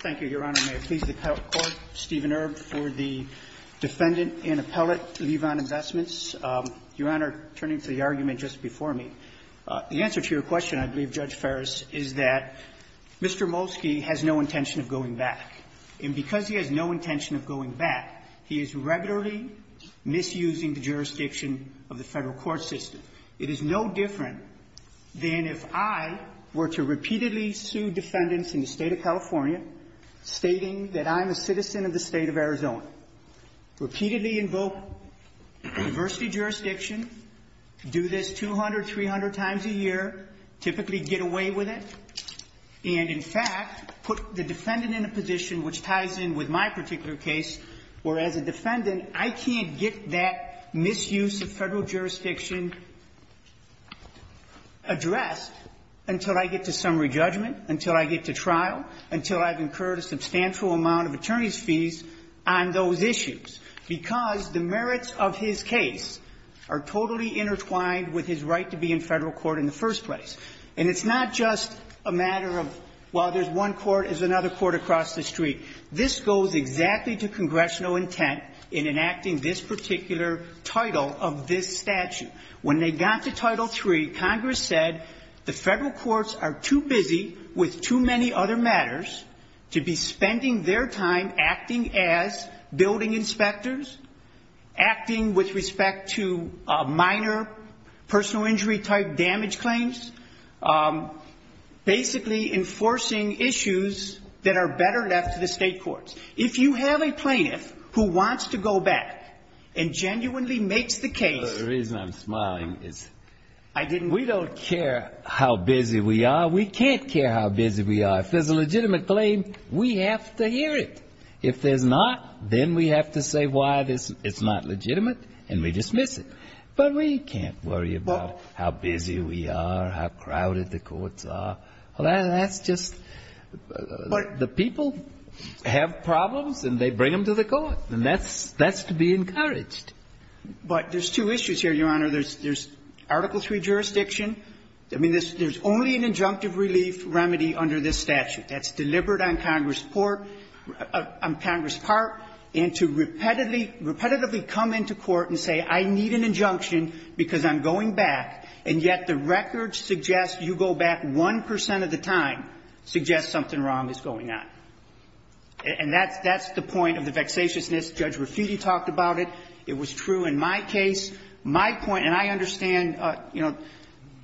Thank you, Your Honor. May it please the Court, Stephen Erb for the defendant and appellate Levon Investments. Your Honor, turning to the argument just before me, the answer to your question, I believe, Judge Ferris, is that Mr. Molski has no intention of going back. And because he has no intention of going back, he is regularly misusing the jurisdiction of the Federal court system. It is no different than if I were to repeatedly sue defendants in the State of California, stating that I'm a citizen of the State of Arizona. Repeatedly invoke diversity jurisdiction, do this 200, 300 times a year, typically get away with it, and, in fact, put the defendant in a position which ties in with my particular case, where as a defendant, I can't get that misuse of Federal jurisdiction addressed until I get to summary judgment, until I get to trial, until I've incurred a substantial amount of attorney's fees on those issues, because the merits of his case are totally intertwined with his right to be in Federal court in the first place. And it's not just a matter of, well, there's one court, there's another court across the street. This goes exactly to congressional intent in enacting this particular title of this statute. When they got to Title III, Congress said the Federal courts are too busy with too many other matters to be spending their time acting as building inspectors, acting with respect to minor personal injury type damage claims, basically enforcing issues that are better left to the State courts. If you have a plaintiff who wants to go back and genuinely makes the case The reason I'm smiling is we don't care how busy we are. We can't care how busy we are. If there's a legitimate claim, we have to hear it. If there's not, then we have to say why it's not legitimate, and we dismiss it. But we can't worry about how busy we are, how crowded the courts are. That's just the people have problems, and they bring them to the court. And that's to be encouraged. But there's two issues here, Your Honor. There's Article III jurisdiction. I mean, there's only an injunctive relief remedy under this statute. That's deliberate on Congress' part and to repetitively come into court and say, I need an injunction because I'm going back, and yet the records suggest you go back 1 percent of the time suggest something wrong is going on. And that's the point of the vexatiousness. Judge Rafiti talked about it. It was true in my case. My point, and I understand, you know,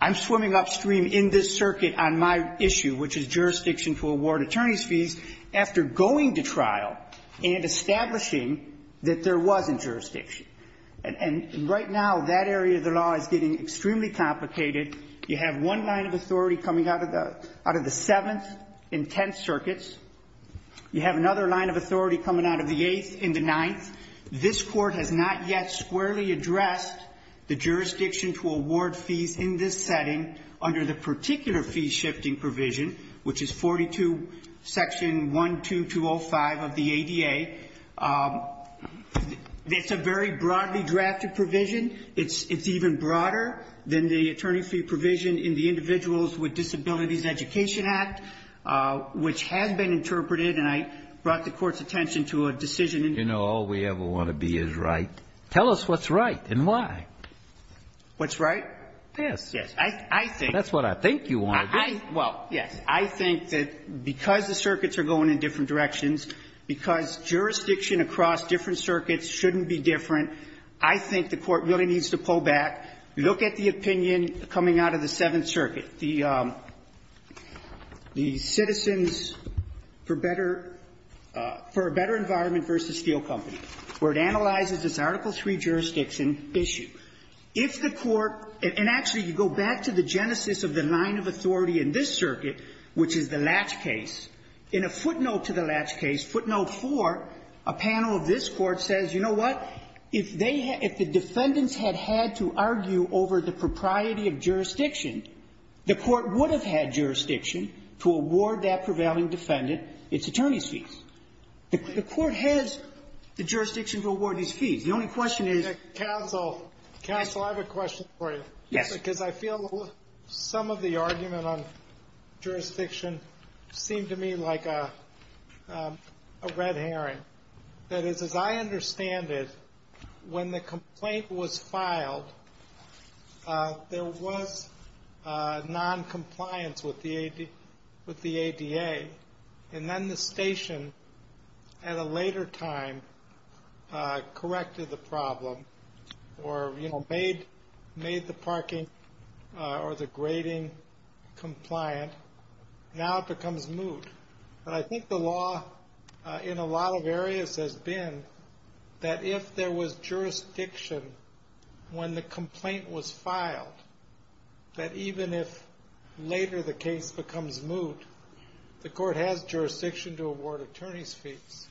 I'm swimming upstream in this circuit on my issue, which is jurisdiction to award attorney's fees after going to trial and establishing that there wasn't jurisdiction. And right now, that area of the law is getting extremely complicated. You have one line of authority coming out of the seventh and tenth circuits. You have another line of authority coming out of the eighth and the ninth. This Court has not yet squarely addressed the jurisdiction to award fees in this setting under the particular fee-shifting provision, which is 42, Section 12205 of the ADA. It's a very broadly drafted provision. It's even broader than the attorney fee provision in the Individuals with Disabilities Education Act, which has been interpreted, and I brought the Court's attention to a decision in the court. You know, all we ever want to be is right. Tell us what's right and why. What's right? Yes. Yes. I think. That's what I think you want to do. Well, yes. I think that because the circuits are going in different directions, because jurisdiction across different circuits shouldn't be different, I think the Court really needs to pull back, look at the opinion coming out of the seventh circuit, the Citizens for Better Environment v. Steel Company, where it analyzes this Article III jurisdiction issue. If the Court — and actually, you go back to the genesis of the line of authority in this circuit, which is the Latch case. In a footnote to the Latch case, footnote 4, a panel of this Court says, you know what, if they had — if the defendants had had to argue over the propriety of jurisdiction, the Court would have had jurisdiction to award that prevailing defendant its attorney's fees. The Court has the jurisdiction to award these fees. The only question is — Counsel. Counsel, I have a question for you. Yes. Because I feel some of the argument on jurisdiction seemed to me like a red herring. That is, as I understand it, when the complaint was filed, there was noncompliance with the ADA. And then the station, at a later time, corrected the problem or, you know, made the parking or the grading compliant. Now it becomes moot. But I think the law in a lot of areas has been that if there was jurisdiction when the complaint was filed, that even if later the case becomes moot, the Court has jurisdiction to award attorney's fees.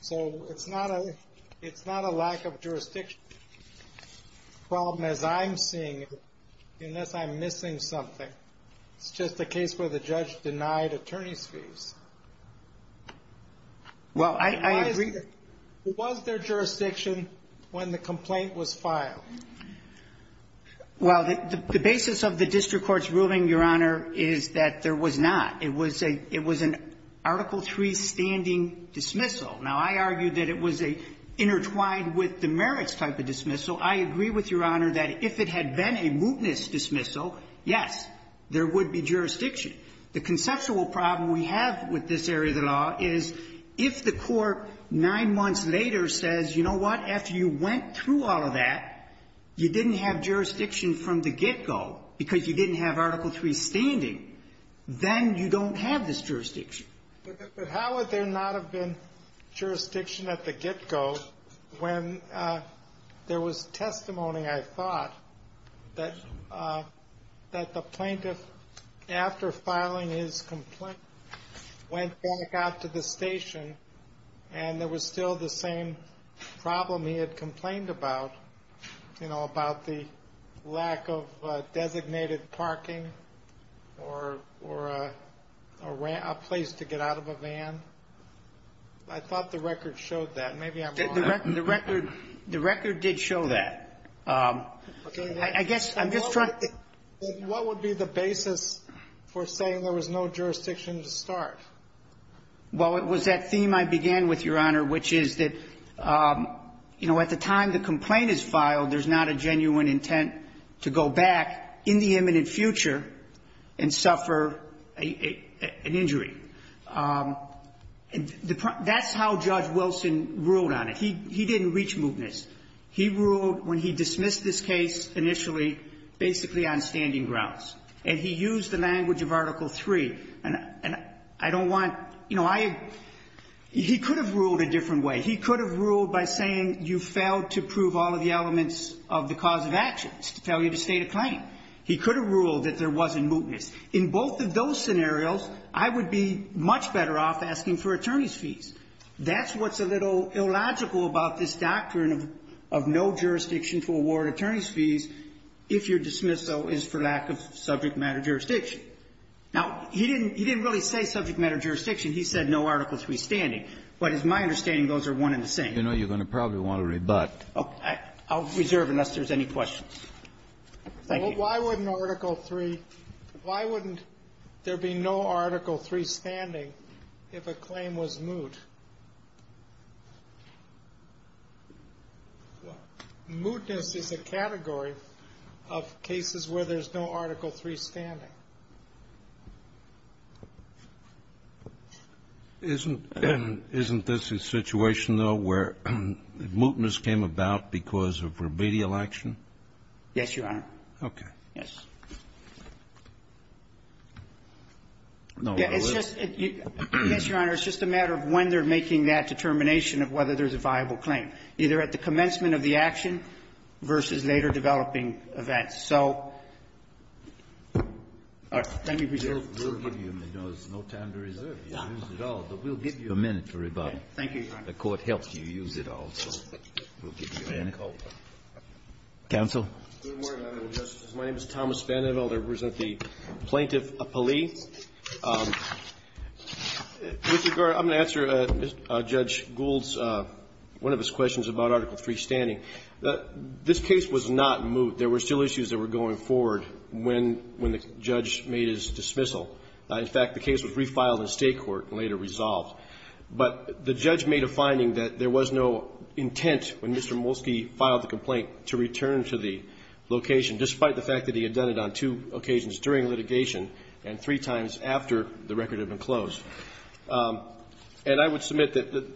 So it's not a — it's not a lack of jurisdiction problem, as I'm seeing it, unless I'm missing something. It's just a case where the judge denied attorney's fees. Well, I agree that — Why is — was there jurisdiction when the complaint was filed? Well, the basis of the district court's ruling, Your Honor, is that there was not. It was a — it was an Article III standing dismissal. Now, I argue that it was a intertwined with the merits type of dismissal. I agree with Your Honor that if it had been a mootness dismissal, yes, there would be jurisdiction. The conceptual problem we have with this area of the law is, if the Court nine months later says, you know what, after you went through all of that, you didn't have jurisdiction from the get-go because you didn't have Article III standing, then you don't have this jurisdiction. But how would there not have been jurisdiction at the get-go when there was testimony, I thought, that the plaintiff, after filing his complaint, went back out to the station and there was still the same problem he had complained about, you know, about the lack of designated parking or a place to get out of a van? I thought the record showed that. Maybe I'm wrong. The record did show that. I guess I'm just trying to — What would be the basis for saying there was no jurisdiction to start? Well, it was that theme I began with, Your Honor, which is that, you know, at the time the complaint is filed, there's not a genuine intent to go back in the imminent future and suffer an injury. That's how Judge Wilson ruled on it. He didn't reach mootness. He ruled, when he dismissed this case initially, basically on standing grounds. And he used the language of Article III. And I don't want — you know, I — he could have ruled a different way. He could have ruled by saying you failed to prove all of the elements of the cause of action. It's a failure to state a claim. He could have ruled that there wasn't mootness. In both of those scenarios, I would be much better off asking for attorney's fees. That's what's a little illogical about this doctrine of no jurisdiction to award attorney's fees if your dismissal is for lack of subject-matter jurisdiction. Now, he didn't — he didn't really say subject-matter jurisdiction. He said no Article III standing. But it's my understanding those are one and the same. You know, you're going to probably want to rebut. I'll reserve unless there's any questions. Thank you. But why wouldn't Article III — why wouldn't there be no Article III standing if a claim was moot? Mootness is a category of cases where there's no Article III standing. Isn't — isn't this a situation, though, where mootness came about because of remedial action? Yes, Your Honor. Okay. Yes. No. It's just — yes, Your Honor, it's just a matter of when they're making that determination of whether there's a viable claim, either at the commencement of the action versus later developing events. So let me reserve. We'll give you — you know, there's no time to reserve. You used it all, but we'll give you a minute to rebut. Okay. Thank you, Your Honor. The Court helped you use it all, so we'll give you a minute. Counsel? Good morning, Your Honor and Justices. My name is Thomas Vandenvelde. I represent the Plaintiff Appellee. With regard — I'm going to answer Judge Gould's — one of his questions about Article III standing. This case was not moot. There were still issues that were going forward when — when the judge made his dismissal. In fact, the case was refiled in State court and later resolved. But the judge made a finding that there was no intent, when Mr. Molsky filed the complaint, to return to the location, despite the fact that he had done it on two occasions during litigation and three times after the record had been closed. And I would submit that the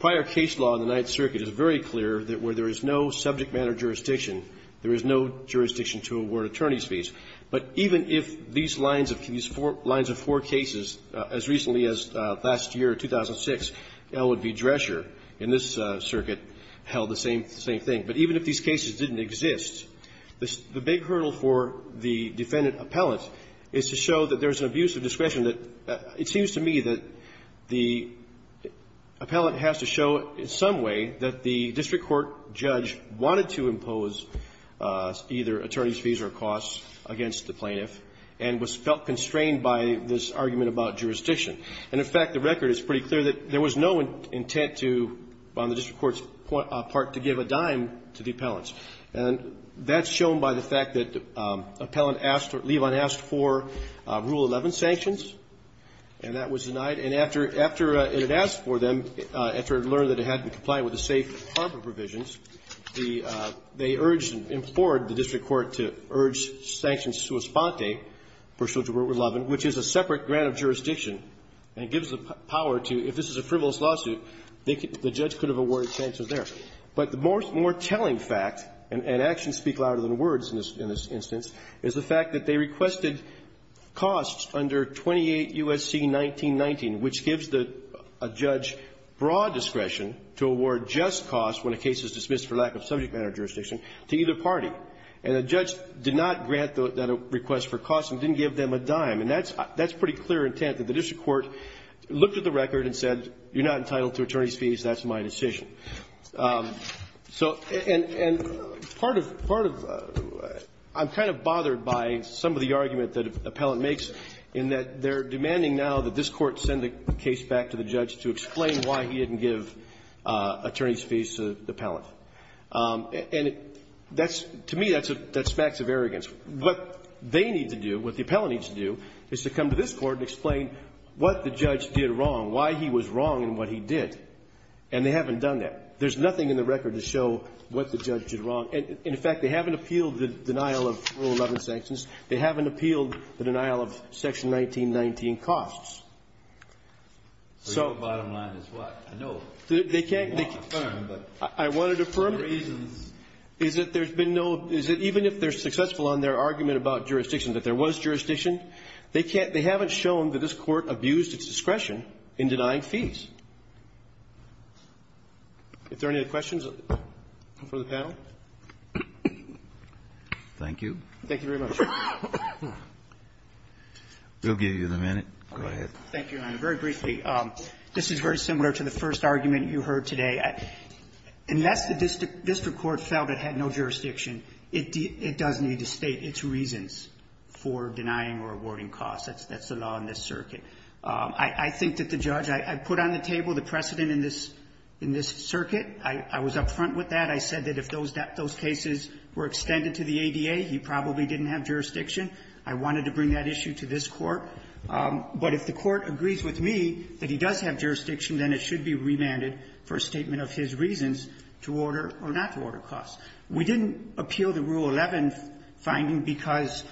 prior case law in the Ninth Circuit is very clear that where there is no subject matter jurisdiction, there is no jurisdiction to award attorney's fees. But even if these lines of — these lines of four cases, as recently as last year, 2006, Elwood v. Drescher, in this circuit, held the same — the same thing. But even if these cases didn't exist, the — the big hurdle for the defendant appellate is to show that there's an abuse of discretion that — it seems to me that the appellate has to show in some way that the district court judge wanted to impose either attorney's fees or costs against the plaintiff and was felt constrained by this argument about jurisdiction. And, in fact, the record is pretty clear that there was no intent to, on the district court's part, to give a dime to the appellants. And that's shown by the fact that the appellant asked — Levon asked for Rule 11 sanctions, and that was denied. And after — after it had asked for them, after it learned that it had to comply with the safe harbor provisions, the — they urged and implored the district court to urge Sanction Suis Ponte, pursuant to Rule 11, which is a separate grant of jurisdiction and gives the power to, if this is a frivolous lawsuit, the judge could have awarded sanctions there. But the more — more telling fact, and actions speak louder than words in this — in this instance, is the fact that they requested costs under 28 U.S.C. 1919, which gives the — a judge broad discretion to award just costs when a case is dismissed for lack of subject matter jurisdiction to either party. And the judge did not grant that request for costs and didn't give them a dime. And that's — that's pretty clear intent, that the district court looked at the record and said, you're not entitled to attorney's fees, that's my decision. So — and — and part of — part of — I'm kind of bothered by some of the argument that appellant makes in that they're demanding now that this Court send the case back to the judge to explain why he didn't give attorney's fees to the appellant. And that's — to me, that's a — that smacks of arrogance. What they need to do, what the appellant needs to do, is to come to this Court and explain what the judge did wrong, why he was wrong in what he did. And they haven't done that. There's nothing in the record to show what the judge did wrong. And, in fact, they haven't appealed the denial of Rule 11 sanctions. They haven't appealed the denial of Section 1919 costs. So — So your bottom line is what? I know — They can't — Well, affirm, but — I wanted to affirm — For reasons — Is that there's been no — is that even if they're successful on their argument about jurisdiction, that there was jurisdiction, they can't — they haven't shown that this Court abused its discretion in denying fees. If there are any other questions for the panel? Thank you. Thank you very much. We'll give you the minute. Go ahead. Thank you, Your Honor. Very briefly, this is very similar to the first argument you heard today. Unless the district court felt it had no jurisdiction, it does need to state its reasons for denying or awarding costs. That's the law in this circuit. I think that the judge — I put on the table the precedent in this circuit. I was up front with that. I said that if those cases were extended to the ADA, he probably didn't have jurisdiction. I wanted to bring that issue to this Court. But if the Court agrees with me that he does have jurisdiction, then it should be remanded for a statement of his reasons to order or not to order costs. We didn't appeal the Rule 11 finding because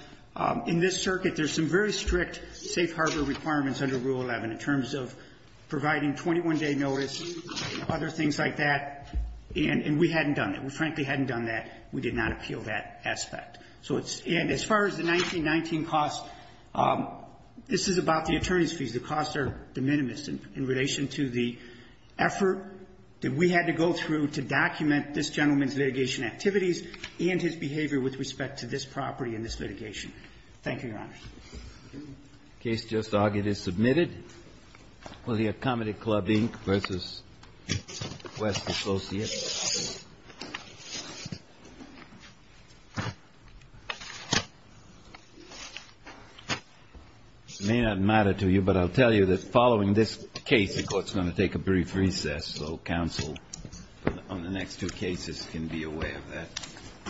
in this circuit, there's some very strict safe harbor requirements under Rule 11 in terms of providing 21-day notice and other things like that. And we hadn't done it. We frankly hadn't done that. We did not appeal that aspect. So it's — and as far as the 1919 costs, this is about the attorneys' fees. The costs are de minimis in relation to the effort that we had to go through to document this gentleman's litigation activities and his behavior with respect to this property and this litigation. Thank you, Your Honor. The case just argued is submitted for the Accommodate Club, Inc. v. West Associates. It may not matter to you, but I'll tell you that following this case, the Court's decision on the next two cases can be a way of that.